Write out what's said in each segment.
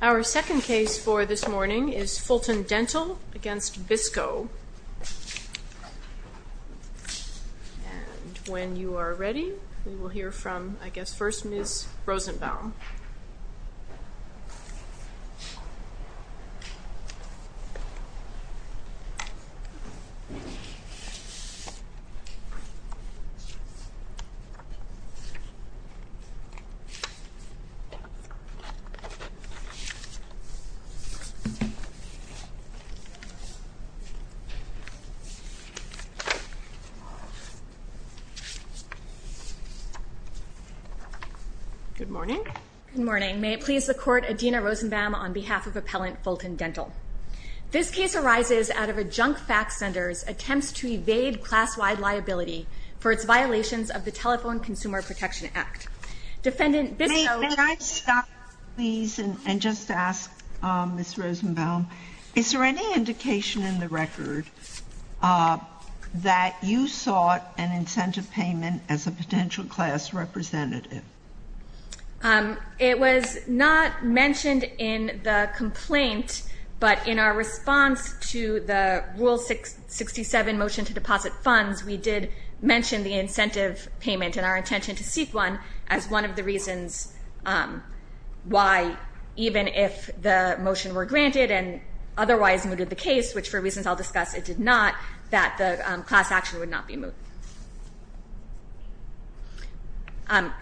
Our second case for this morning is Fulton Dental v. Bisco. And when you are ready, we will hear from, I guess, first Ms. Rosenbaum. Ms. Rosenbaum. Ms. Rosenbaum. Good morning. May it please the Court, Adina Rosenbaum on behalf of Appellant Fulton Dental. This case arises out of a junk fax sender's attempts to evade class-wide liability for its violations of the Telephone Consumer Protection Act. May I stop, please, and just ask Ms. Rosenbaum, is there any indication in the record that you sought an incentive payment as a potential class representative? It was not mentioned in the complaint, but in our response to the Rule 67 motion to deposit funds, we did mention the incentive payment and our intention to seek one as one of the reasons why, even if the motion were granted and otherwise mooted the case, which for reasons I'll discuss it did not, that the class action would not be moot.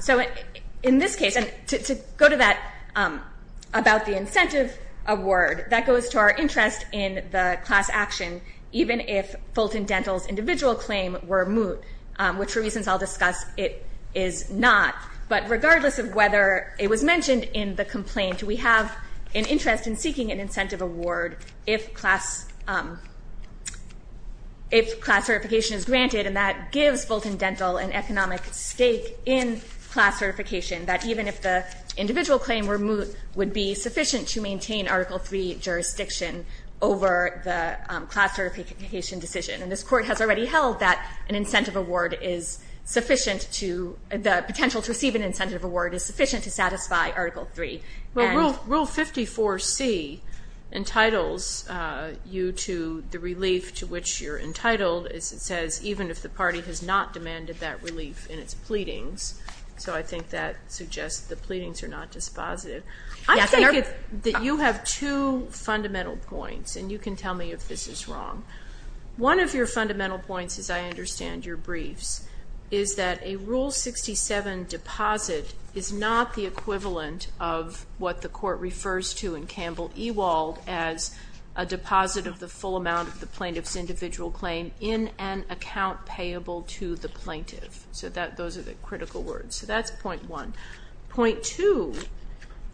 So in this case, and to go to that about the incentive award, that goes to our interest in the class action, even if Fulton Dental's individual claim were moot, which for reasons I'll discuss it is not. But regardless of whether it was mentioned in the complaint, we have an interest in seeking an incentive award if class certification is granted, and that gives Fulton Dental an economic stake in class certification, that even if the individual claim were moot, would be sufficient to maintain Article III jurisdiction over the class certification decision, and this Court has already held that an incentive award is sufficient to the potential to receive an incentive award is sufficient to satisfy Article III. Rule 54C entitles you to the relief to which you're entitled, as it says, even if the party has not demanded that relief in its pleadings. So I think that suggests the pleadings are not dispositive. I think that you have two fundamental points, and you can tell me if this is wrong. One of your fundamental points, as I understand your briefs, is that a Rule 67 deposit is not the equivalent of what the Court refers to in Campbell-Ewald as a deposit of the full amount of the plaintiff's individual claim in an account payable to the plaintiff. So those are the critical words. So that's point one. Point two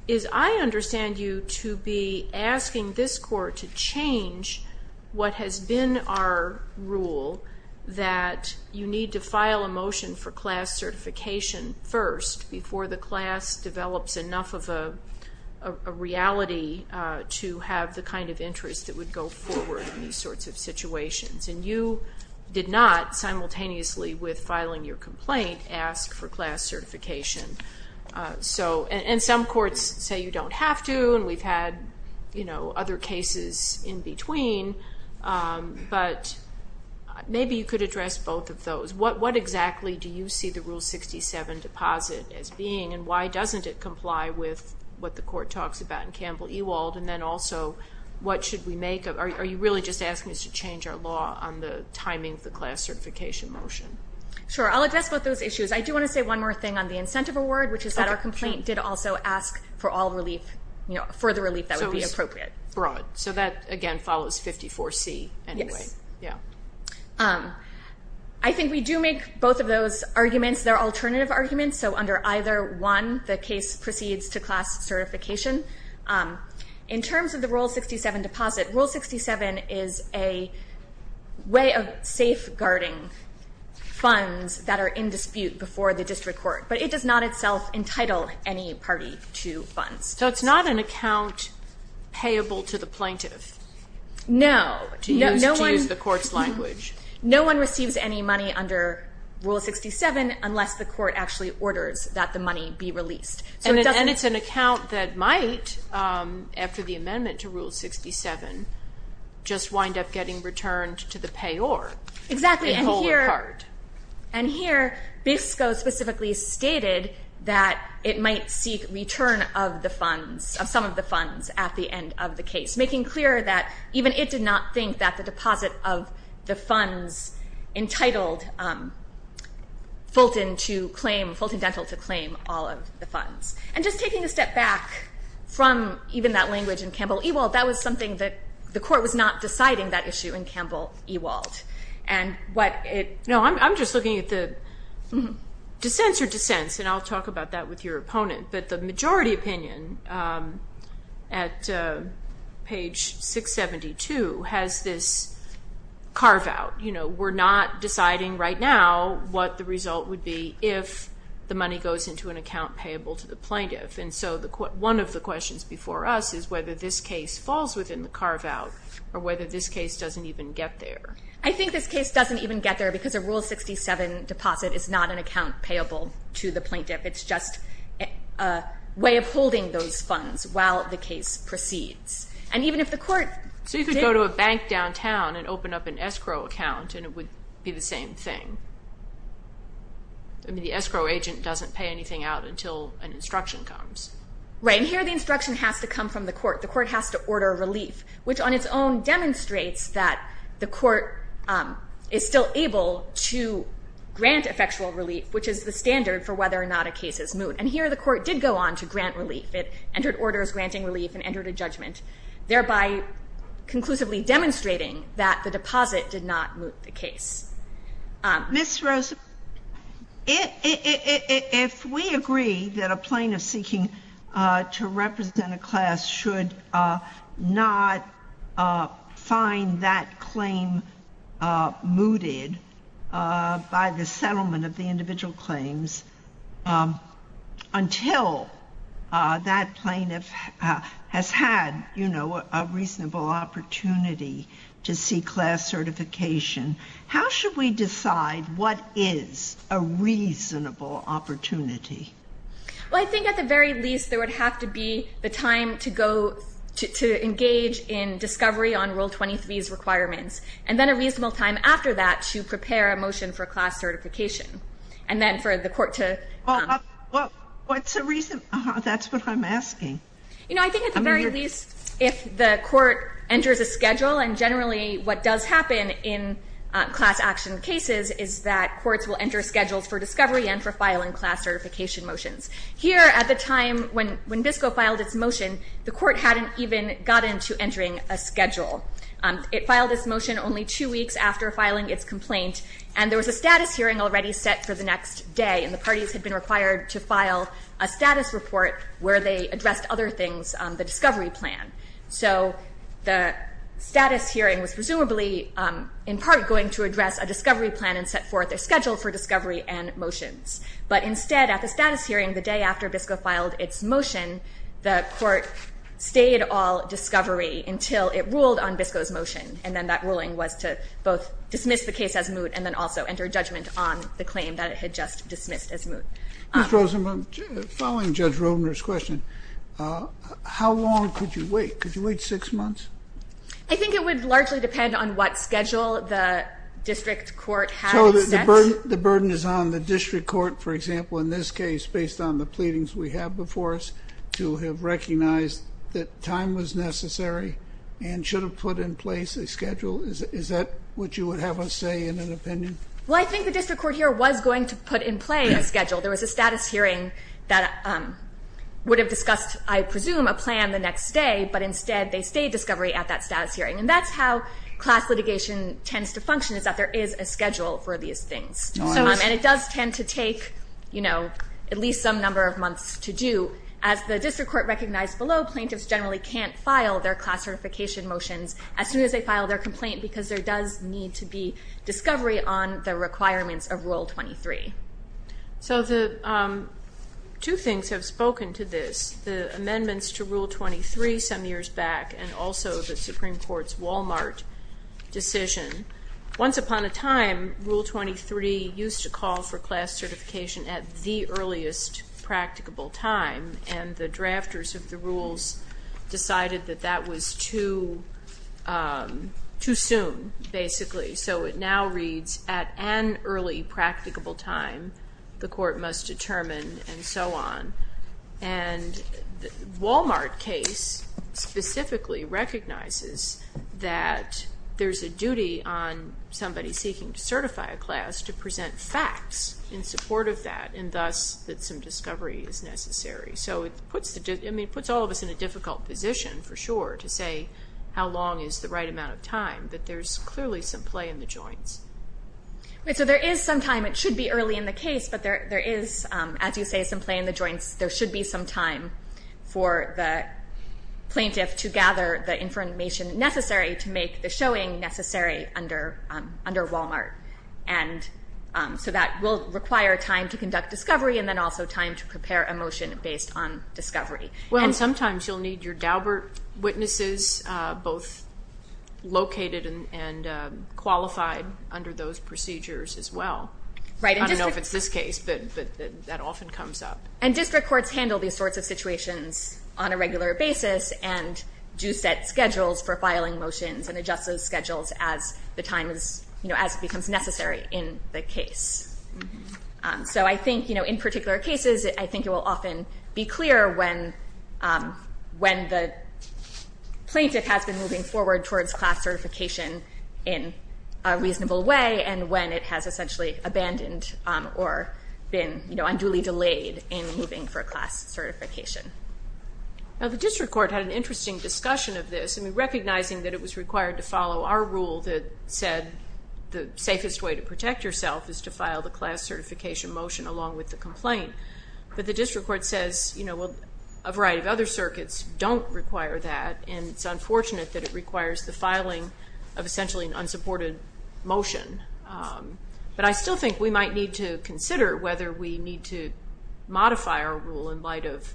is I understand you to be asking this Court to change what has been our rule that you need to file a motion for class certification first before the class develops enough of a reality to have the kind of interest that would go forward in these sorts of situations. And you did not simultaneously with filing your complaint ask for class certification. And some courts say you don't have to, and we've had other cases in between, but maybe you could address both of those. What exactly do you see the Rule 67 deposit as being, and why doesn't it comply with what the Court talks about in Campbell-Ewald? And then also, what should we make of it? Are you really just asking us to change our law on the timing of the class certification motion? Sure. I'll address both those issues. I do want to say one more thing on the incentive award, which is that our complaint did also ask for the relief that would be appropriate. So that, again, follows 54C anyway. Yes. I think we do make both of those arguments. They're alternative arguments. So under either one, the case proceeds to class certification. In terms of the Rule 67 deposit, Rule 67 is a way of safeguarding funds that are in dispute before the district court. But it does not itself entitle any party to funds. So it's not an account payable to the plaintiff? No. To use the court's language. No one receives any money under Rule 67 unless the court actually orders that the money be released. And it's an account that might, after the amendment to Rule 67, just wind up getting returned to the payor. Exactly. And here, BISCO specifically stated that it might seek return of the funds, of some of the funds at the end of the case, making clear that even it did not think that the deposit of the funds entitled Fulton to claim, Fulton Dental to claim all of the funds. And just taking a step back from even that language in Campbell-Ewald, that was something that the court was not deciding, that issue in Campbell-Ewald. No, I'm just looking at the dissents or dissents, and I'll talk about that with your opponent. But the majority opinion at page 672 has this carve-out. You know, we're not deciding right now what the result would be if the money goes into an account payable to the plaintiff. And so one of the questions before us is whether this case falls within the carve-out or whether this case doesn't even get there. I think this case doesn't even get there because a Rule 67 deposit is not an account payable to the plaintiff. It's just a way of holding those funds while the case proceeds. And even if the court did... So you could go to a bank downtown and open up an escrow account, and it would be the same thing. I mean, the escrow agent doesn't pay anything out until an instruction comes. Right, and here the instruction has to come from the court. The court has to order relief, which on its own demonstrates that the court is still able to grant effectual relief, which is the standard for whether or not a case is moot. And here the court did go on to grant relief. It entered orders granting relief and entered a judgment, thereby conclusively demonstrating that the deposit did not moot the case. Ms. Rosenberg, if we agree that a plaintiff seeking to represent a class should not find that claim mooted by the settlement of the individual claims until that plaintiff has had, you know, a reasonable opportunity to seek class certification, how should we decide what is a reasonable opportunity? Well, I think at the very least there would have to be the time to go to engage in discovery on Rule 23's requirements and then a reasonable time after that to prepare a motion for class certification. And then for the court to... Well, what's the reason? That's what I'm asking. You know, I think at the very least if the court enters a schedule, and generally what does happen in class action cases is that courts will enter schedules for discovery and for filing class certification motions. Here at the time when BISCO filed its motion, the court hadn't even gotten to entering a schedule. It filed its motion only two weeks after filing its complaint, and there was a status hearing already set for the next day, and the parties had been required to file a status report where they addressed other things on the discovery plan. So the status hearing was presumably in part going to address a discovery plan and set forth a schedule for discovery and motions. But instead at the status hearing the day after BISCO filed its motion, the court stayed all discovery until it ruled on BISCO's motion, and then that ruling was to both dismiss the case as moot and then also enter judgment on the claim that it had just dismissed as moot. Ms. Rosenbaum, following Judge Rovner's question, how long could you wait? Could you wait six months? I think it would largely depend on what schedule the district court had set. So the burden is on the district court, for example, in this case, based on the pleadings we have before us, to have recognized that time was necessary and should have put in place a schedule? Is that what you would have us say in an opinion? Well, I think the district court here was going to put in place a schedule. There was a status hearing that would have discussed, I presume, a plan the next day, but instead they stayed discovery at that status hearing. And that's how class litigation tends to function is that there is a schedule for these things. And it does tend to take, you know, at least some number of months to do. As the district court recognized below, plaintiffs generally can't file their class certification motions as soon as they file their complaint because there does need to be discovery on the requirements of Rule 23. So two things have spoken to this, the amendments to Rule 23 some years back and also the Supreme Court's Wal-Mart decision. Once upon a time, Rule 23 used to call for class certification at the earliest practicable time, and the drafters of the rules decided that that was too soon, basically. So it now reads, at an early practicable time, the court must determine, and so on. And the Wal-Mart case specifically recognizes that there's a duty on somebody seeking to certify a class to present facts in support of that, and thus that some discovery is necessary. So it puts all of us in a difficult position, for sure, to say how long is the right amount of time, but there's clearly some play in the joints. So there is some time. It should be early in the case, but there is, as you say, some play in the joints. There should be some time for the plaintiff to gather the information necessary to make the showing necessary under Wal-Mart. And so that will require time to conduct discovery and then also time to prepare a motion based on discovery. Well, and sometimes you'll need your Daubert witnesses, both located and qualified under those procedures as well. I don't know if it's this case, but that often comes up. And district courts handle these sorts of situations on a regular basis and do set schedules for filing motions and adjust those schedules as it becomes necessary in the case. So I think in particular cases, I think it will often be clear when the plaintiff has been moving forward towards class certification in a reasonable way and when it has essentially abandoned or been unduly delayed in moving for class certification. Now the district court had an interesting discussion of this, recognizing that it was required to follow our rule that said the safest way to protect yourself is to file the class certification motion along with the complaint. But the district court says a variety of other circuits don't require that, and it's unfortunate that it requires the filing of essentially an unsupported motion. But I still think we might need to consider whether we need to modify our rule in light of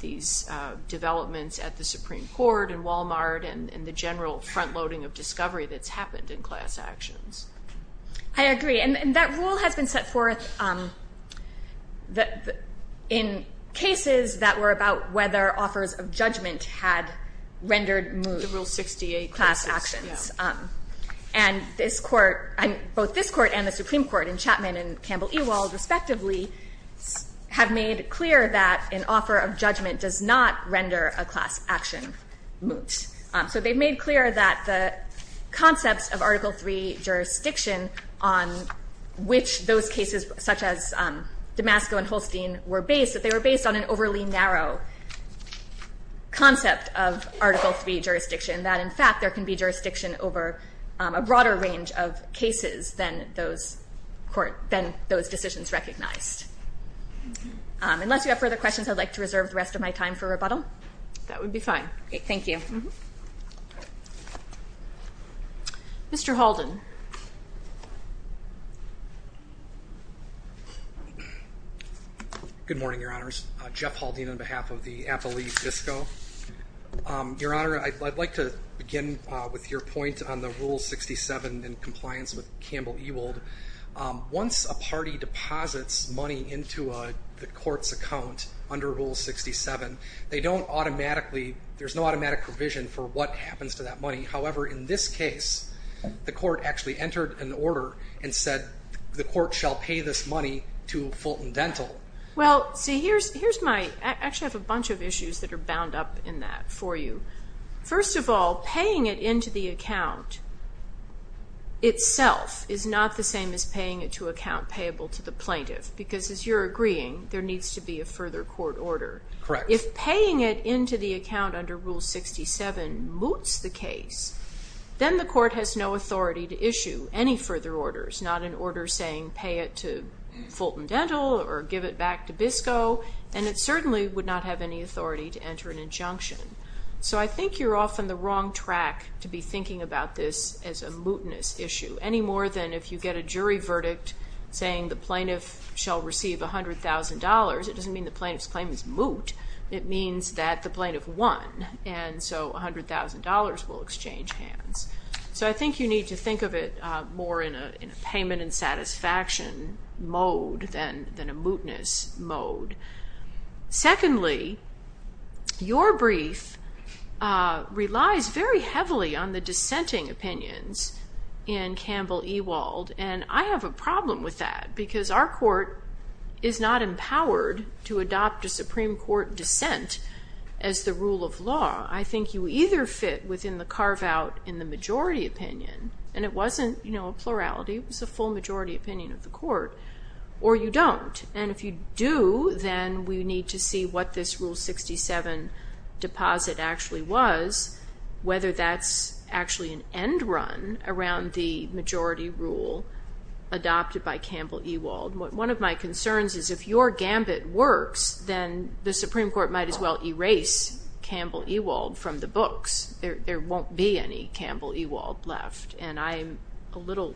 these developments at the Supreme Court and Walmart and the general front-loading of discovery that's happened in class actions. I agree, and that rule has been set forth in cases that were about whether offers of judgment had rendered moot class actions. And both this court and the Supreme Court in Chapman and Campbell-Ewald respectively have made clear that an offer of judgment does not render a class action moot. So they've made clear that the concepts of Article III jurisdiction on which those cases, such as Damasco and Holstein, were based, that they were based on an overly narrow concept of Article III jurisdiction, that in fact there can be jurisdiction over a broader range of cases than those decisions recognized. Unless you have further questions, I'd like to reserve the rest of my time for rebuttal. That would be fine. Thank you. Mr. Halden. Good morning, Your Honors. Jeff Halden on behalf of the Appalachian Disco. Your Honor, I'd like to begin with your point on the Rule 67 in compliance with Campbell-Ewald. Once a party deposits money into the court's account under Rule 67, they don't automatically, there's no automatic provision for what happens to that money. However, in this case, the court actually entered an order and said the court shall pay this money to Fulton Dental. Well, see, here's my, I actually have a bunch of issues that are bound up in that for you. First of all, paying it into the account itself is not the same as paying it to account payable to the plaintiff, because as you're agreeing, there needs to be a further court order. Correct. If paying it into the account under Rule 67 moots the case, then the court has no authority to issue any further orders, not an order saying pay it to Fulton Dental or give it back to Disco, and it certainly would not have any authority to enter an injunction. So I think you're off on the wrong track to be thinking about this as a mootness issue, any more than if you get a jury verdict saying the plaintiff shall receive $100,000. It doesn't mean the plaintiff's claim is moot. It means that the plaintiff won, and so $100,000 will exchange hands. So I think you need to think of it more in a payment and satisfaction mode than a mootness mode. Secondly, your brief relies very heavily on the dissenting opinions in Campbell-Ewald, and I have a problem with that because our court is not empowered to adopt a Supreme Court dissent as the rule of law. I think you either fit within the carve-out in the majority opinion, and it wasn't a plurality, it was a full majority opinion of the court, or you don't. And if you do, then we need to see what this Rule 67 deposit actually was, whether that's actually an end run around the majority rule adopted by Campbell-Ewald. One of my concerns is if your gambit works, then the Supreme Court might as well erase Campbell-Ewald from the books. There won't be any Campbell-Ewald left, and I'm a little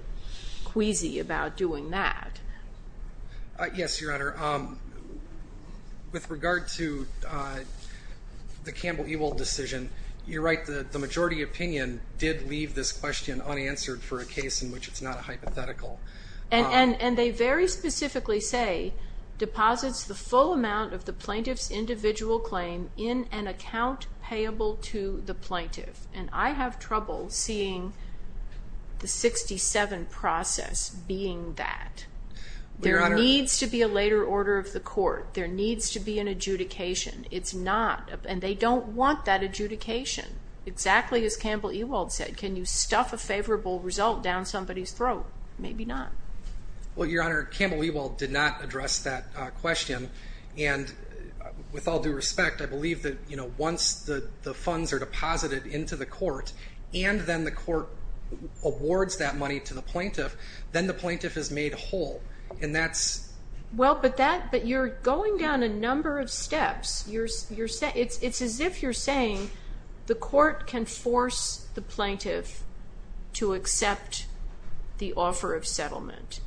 queasy about doing that. Yes, Your Honor. With regard to the Campbell-Ewald decision, you're right. The majority opinion did leave this question unanswered for a case in which it's not a hypothetical. And they very specifically say, deposits the full amount of the plaintiff's individual claim in an account payable to the plaintiff. And I have trouble seeing the 67 process being that. There needs to be a later order of the court. There needs to be an adjudication. It's not, and they don't want that adjudication. Exactly as Campbell-Ewald said, can you stuff a favorable result down somebody's throat? Maybe not. Well, Your Honor, Campbell-Ewald did not address that question. And with all due respect, I believe that once the funds are deposited into the court, and then the court awards that money to the plaintiff, then the plaintiff is made whole. And that's… Well, but you're going down a number of steps. It's as if you're saying the court can force the plaintiff to accept the offer of settlement.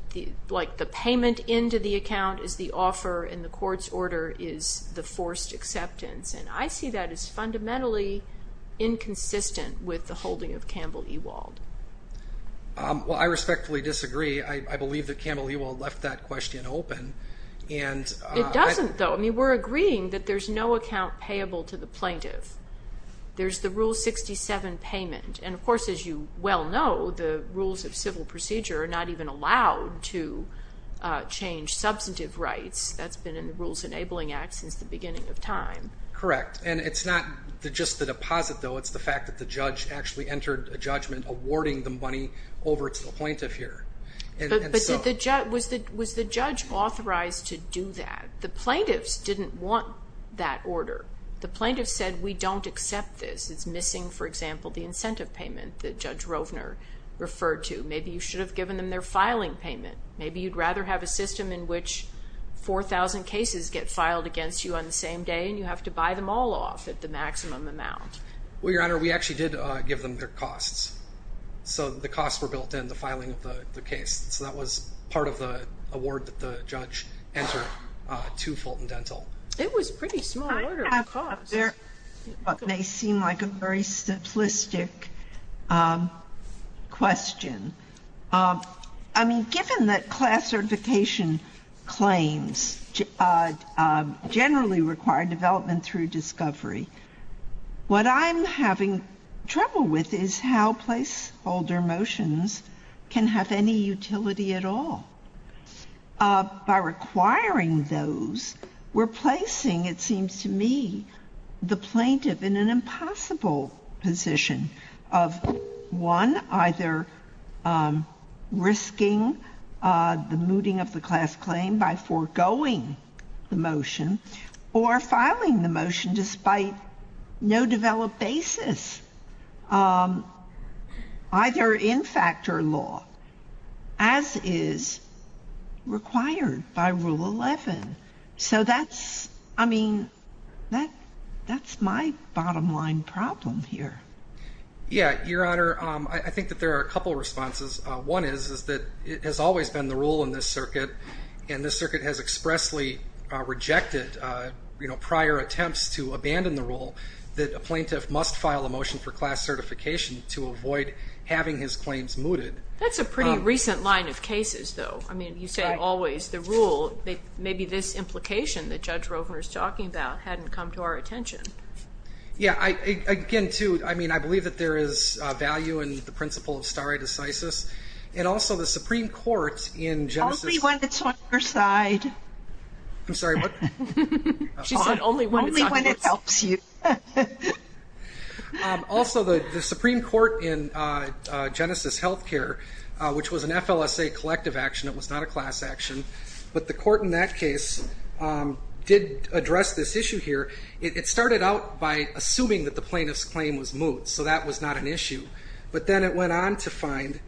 Like the payment into the account is the offer, and the court's order is the forced acceptance. And I see that as fundamentally inconsistent with the holding of Campbell-Ewald. Well, I respectfully disagree. I believe that Campbell-Ewald left that question open. It doesn't, though. I mean, we're agreeing that there's no account payable to the plaintiff. There's the Rule 67 payment. And, of course, as you well know, the rules of civil procedure are not even allowed to change substantive rights. That's been in the Rules Enabling Act since the beginning of time. Correct. And it's not just the deposit, though. It's the fact that the judge actually entered a judgment awarding the money over to the plaintiff here. But was the judge authorized to do that? The plaintiffs didn't want that order. The plaintiffs said, we don't accept this. It's missing, for example, the incentive payment that Judge Rovner referred to. Maybe you should have given them their filing payment. Maybe you'd rather have a system in which 4,000 cases get filed against you on the same day, and you have to buy them all off at the maximum amount. Well, Your Honor, we actually did give them their costs. So the costs were built in, the filing of the case. So that was part of the award that the judge entered to Fulton Dental. It was a pretty small order of costs. I have what may seem like a very simplistic question. I mean, given that class certification claims generally require development through discovery, what I'm having trouble with is how placeholder motions can have any utility at all. By requiring those, we're placing, it seems to me, the plaintiff in an impossible position of, one, either risking the mooting of the class claim by foregoing the motion, or filing the motion despite no developed basis, either in fact or law, as is required by Rule 11. So that's, I mean, that's my bottom line problem here. Yeah, Your Honor, I think that there are a couple of responses. One is that it has always been the rule in this circuit, and this circuit has expressly rejected prior attempts to abandon the rule that a plaintiff must file a motion for class certification to avoid having his claims mooted. That's a pretty recent line of cases, though. I mean, you say always the rule. Maybe this implication that Judge Rovner is talking about hadn't come to our attention. Yeah, again, too, I mean, I believe that there is value in the principle of stare decisis, and also the Supreme Court in Genesis... Only when it's on your side. I'm sorry, what? She said only when it's on your side. Only when it helps you. Also, the Supreme Court in Genesis Healthcare, which was an FLSA collective action, it was not a class action, but the court in that case did address this issue here. It started out by assuming that the plaintiff's claim was moot, so that was not an issue. But then it went on to find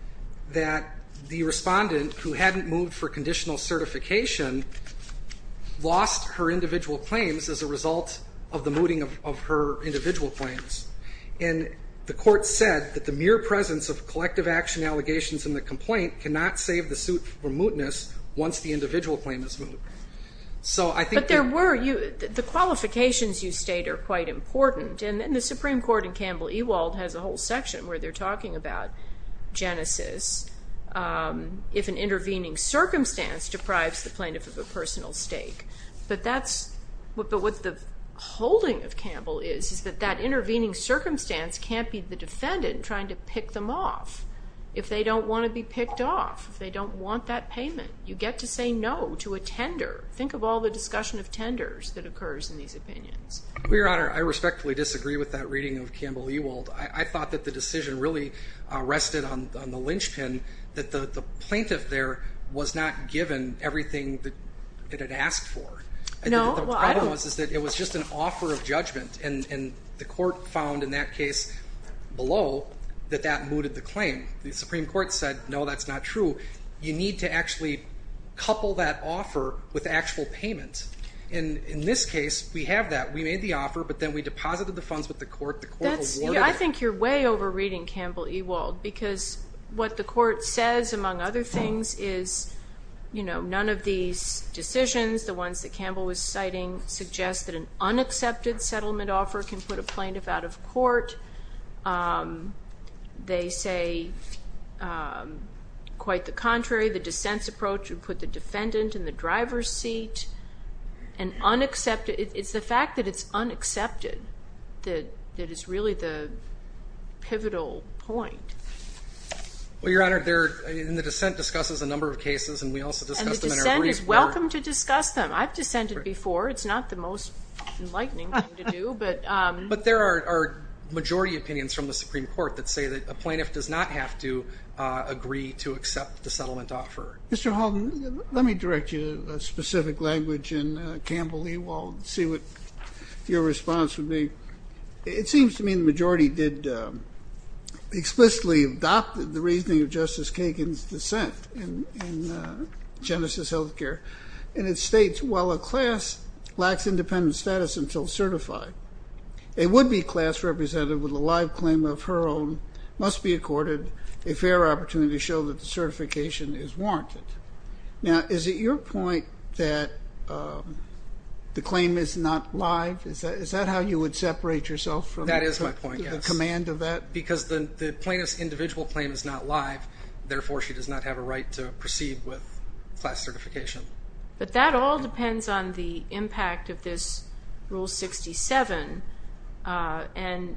that the respondent who hadn't moved for conditional certification lost her individual claims as a result of the mooting of her individual claims. And the court said that the mere presence of collective action allegations in the complaint cannot save the suit from mootness once the individual claim is moot. But the qualifications you state are quite important, and the Supreme Court in Campbell-Ewald has a whole section where they're talking about Genesis, if an intervening circumstance deprives the plaintiff of a personal stake. But what the holding of Campbell is is that that intervening circumstance can't be the defendant trying to pick them off if they don't want to be picked off, if they don't want that payment. You get to say no to a tender. Think of all the discussion of tenders that occurs in these opinions. Well, Your Honor, I respectfully disagree with that reading of Campbell-Ewald. I thought that the decision really rested on the lynchpin, that the plaintiff there was not given everything that it had asked for. No. The problem was that it was just an offer of judgment, and the court found in that case below that that mooted the claim. The Supreme Court said, no, that's not true. You need to actually couple that offer with actual payment. In this case, we have that. We made the offer, but then we deposited the funds with the court. The court awarded it. I think you're way overreading Campbell-Ewald, because what the court says, among other things, is none of these decisions, the ones that Campbell was citing, suggest that an unaccepted settlement offer can put a plaintiff out of court. They say, quite the contrary, the dissent's approach would put the defendant in the driver's seat. It's the fact that it's unaccepted that is really the pivotal point. Well, Your Honor, the dissent discusses a number of cases, and we also discussed them in our brief report. And the dissent is welcome to discuss them. I've dissented before. It's not the most enlightening thing to do. But there are majority opinions from the Supreme Court that say that a plaintiff does not have to agree to accept the settlement offer. Mr. Halden, let me direct you to a specific language in Campbell-Ewald and see what your response would be. It seems to me the majority explicitly adopted the reasoning of Justice Kagan's dissent in Genesis Healthcare, and it states, while a class lacks independent status until certified, a would-be class represented with a live claim of her own must be accorded a fair opportunity to show that the certification is warranted. Now, is it your point that the claim is not live? Is that how you would separate yourself from the command of that? That is my point, yes, because the plaintiff's individual claim is not live. Therefore, she does not have a right to proceed with class certification. But that all depends on the impact of this Rule 67 and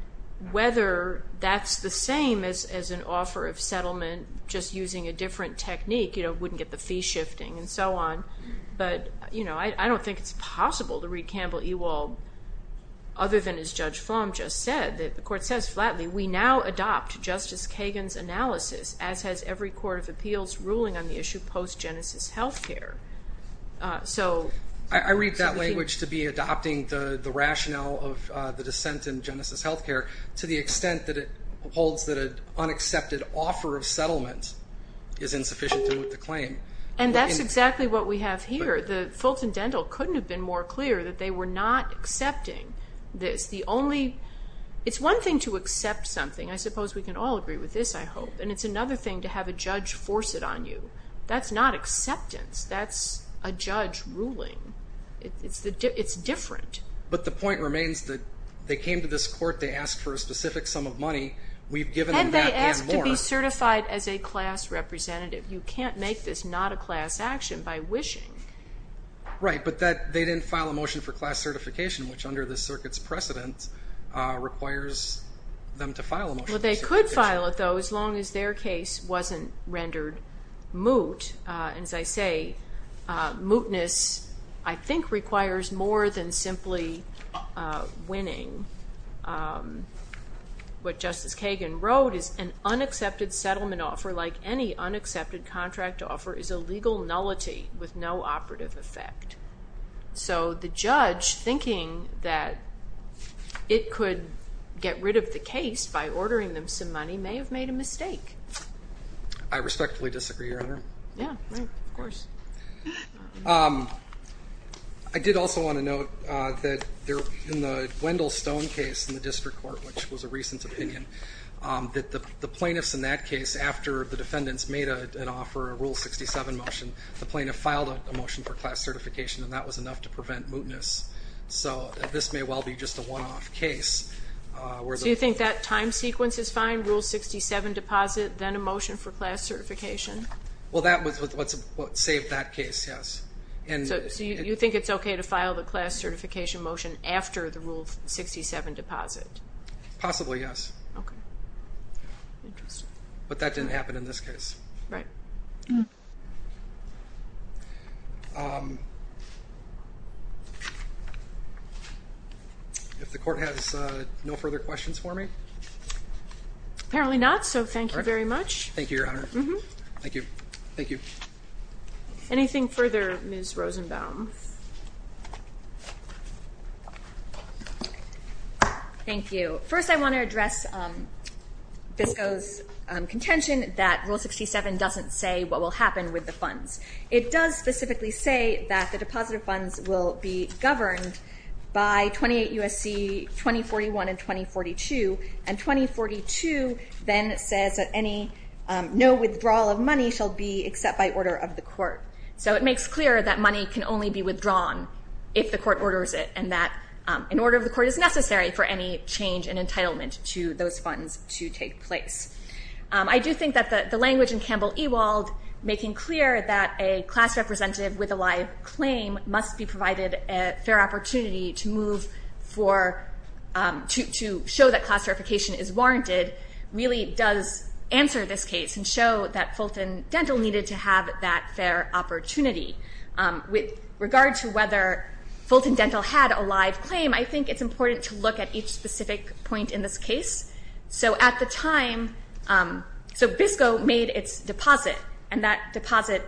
whether that's the same as an offer of settlement just using a different technique. You know, it wouldn't get the fee shifting and so on. But, you know, I don't think it's possible to read Campbell-Ewald other than as Judge Flom just said that the court says flatly, we now adopt Justice Kagan's analysis, as has every Court of Appeals ruling on the issue post-Genesis Healthcare. I read that language to be adopting the rationale of the dissent in Genesis Healthcare to the extent that it holds that an unaccepted offer of settlement is insufficient to move the claim. And that's exactly what we have here. Fulton Dental couldn't have been more clear that they were not accepting this. It's one thing to accept something. I suppose we can all agree with this, I hope. And it's another thing to have a judge force it on you. That's not acceptance. That's a judge ruling. It's different. But the point remains that they came to this court. They asked for a specific sum of money. We've given them that and more. And they asked to be certified as a class representative. You can't make this not a class action by wishing. Right, but they didn't file a motion for class certification, which under the circuit's precedent requires them to file a motion. Well, they could file it, though, as long as their case wasn't rendered moot. And as I say, mootness I think requires more than simply winning. What Justice Kagan wrote is, an unaccepted settlement offer like any unaccepted contract offer is a legal nullity with no operative effect. So the judge, thinking that it could get rid of the case by ordering them some money, may have made a mistake. I respectfully disagree, Your Honor. Yeah, right, of course. I did also want to note that in the Wendell Stone case in the district court, which was a recent opinion, that the plaintiffs in that case, after the defendants made an offer, a Rule 67 motion, the plaintiff filed a motion for class certification, and that was enough to prevent mootness. So this may well be just a one-off case. So you think that time sequence is fine, Rule 67 deposit, then a motion for class certification? Well, that was what saved that case, yes. So you think it's okay to file the class certification motion after the Rule 67 deposit? Possibly, yes. Okay. Interesting. But that didn't happen in this case. Right. If the court has no further questions for me? Apparently not, so thank you very much. Thank you, Your Honor. Thank you. Thank you. Anything further, Ms. Rosenbaum? Thank you. So first I want to address FISCO's contention that Rule 67 doesn't say what will happen with the funds. It does specifically say that the deposit funds will be governed by 28 U.S.C. 2041 and 2042, and 2042 then says that no withdrawal of money shall be except by order of the court. So it makes clear that money can only be withdrawn if the court orders it and that an order of the court is necessary for any change in entitlement to those funds to take place. I do think that the language in Campbell Ewald making clear that a class representative with a live claim must be provided a fair opportunity to show that class certification is warranted really does answer this case and show that Fulton Dental needed to have that fair opportunity. With regard to whether Fulton Dental had a live claim, I think it's important to look at each specific point in this case. So at the time, so FISCO made its deposit, and that deposit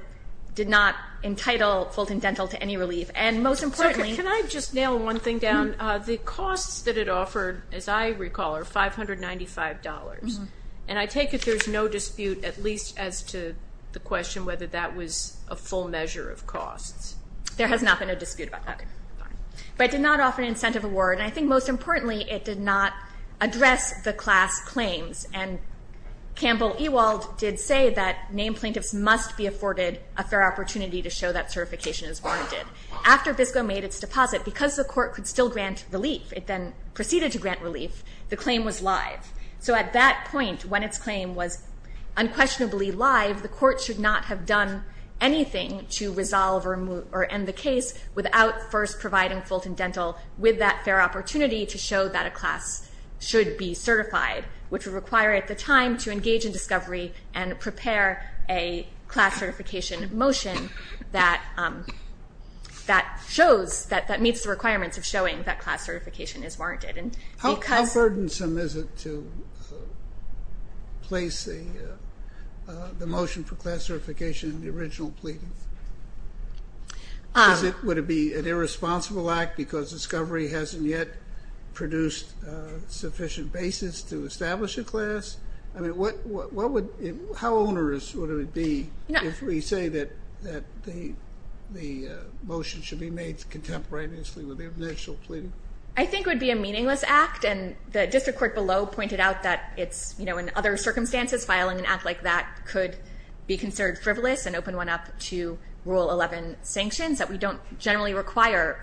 did not entitle Fulton Dental to any relief. And most importantly – Can I just nail one thing down? The costs that it offered, as I recall, are $595. And I take it there's no dispute at least as to the question whether that was a full measure of costs. There has not been a dispute about that. But it did not offer an incentive award, and I think most importantly it did not address the class claims. And Campbell Ewald did say that named plaintiffs must be afforded a fair opportunity to show that certification is warranted. After FISCO made its deposit, because the court could still grant relief, it then proceeded to grant relief, the claim was live. So at that point, when its claim was unquestionably live, the court should not have done anything to resolve or end the case without first providing Fulton Dental with that fair opportunity to show that a class should be certified, which would require at the time to engage in discovery and prepare a class certification motion that shows, that meets the requirements of showing that class certification is warranted. How burdensome is it to place the motion for class certification in the original pleading? Would it be an irresponsible act because discovery hasn't yet produced sufficient basis to establish a class? How onerous would it be if we say that the motion should be made contemporaneously with the initial pleading? I think it would be a meaningless act, and the district court below pointed out that it's, you know, in other circumstances, filing an act like that could be considered frivolous and open one up to Rule 11 sanctions, that we don't generally require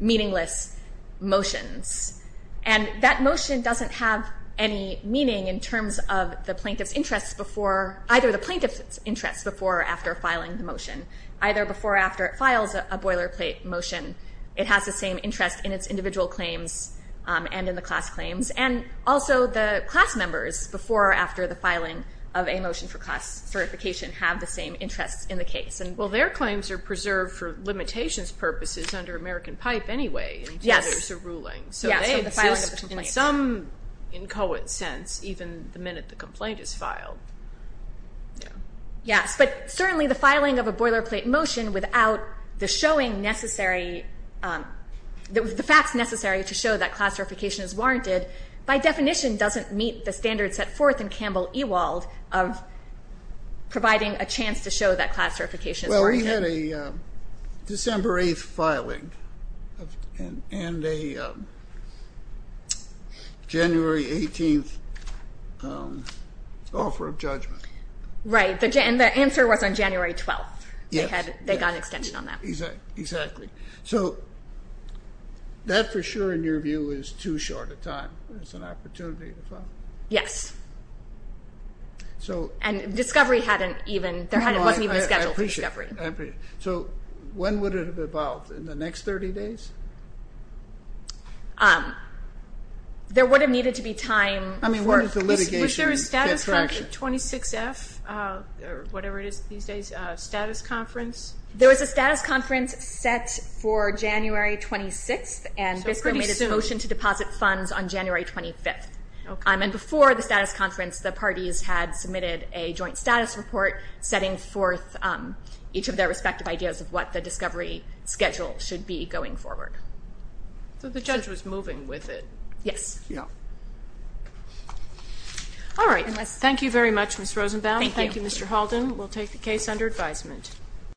meaningless motions. And that motion doesn't have any meaning in terms of the plaintiff's interest before either the plaintiff's interest before or after filing the motion, either before or after it files a boilerplate motion. It has the same interest in its individual claims and in the class claims, and also the class members before or after the filing of a motion for class certification have the same interest in the case. Well, their claims are preserved for limitations purposes under American Pipe anyway until there's a ruling, so they exist in some inchoate sense even the minute the complaint is filed. Yes, but certainly the filing of a boilerplate motion without the facts necessary to show that class certification is warranted by definition doesn't meet the standards set forth in Campbell-Ewald of providing a chance to show that class certification is warranted. Well, you had a December 8th filing and a January 18th offer of judgment. Right, and the answer was on January 12th. Yes. They got an extension on that. Exactly. So that, for sure, in your view, is too short a time. It's an opportunity to file. Yes. And discovery wasn't even scheduled for discovery. I appreciate it. So when would it have evolved? In the next 30 days? There would have needed to be time for it. I mean, when did the litigation get traction? Was there a 26F, or whatever it is these days, status conference? There was a status conference set for January 26th, and BISCO made a motion to deposit funds on January 25th. And before the status conference, the parties had submitted a joint status report setting forth each of their respective ideas of what the discovery schedule should be going forward. So the judge was moving with it. Yes. All right. Thank you very much, Ms. Rosenbaum. Thank you. Thank you, Mr. Halden. We'll take the case under advisement.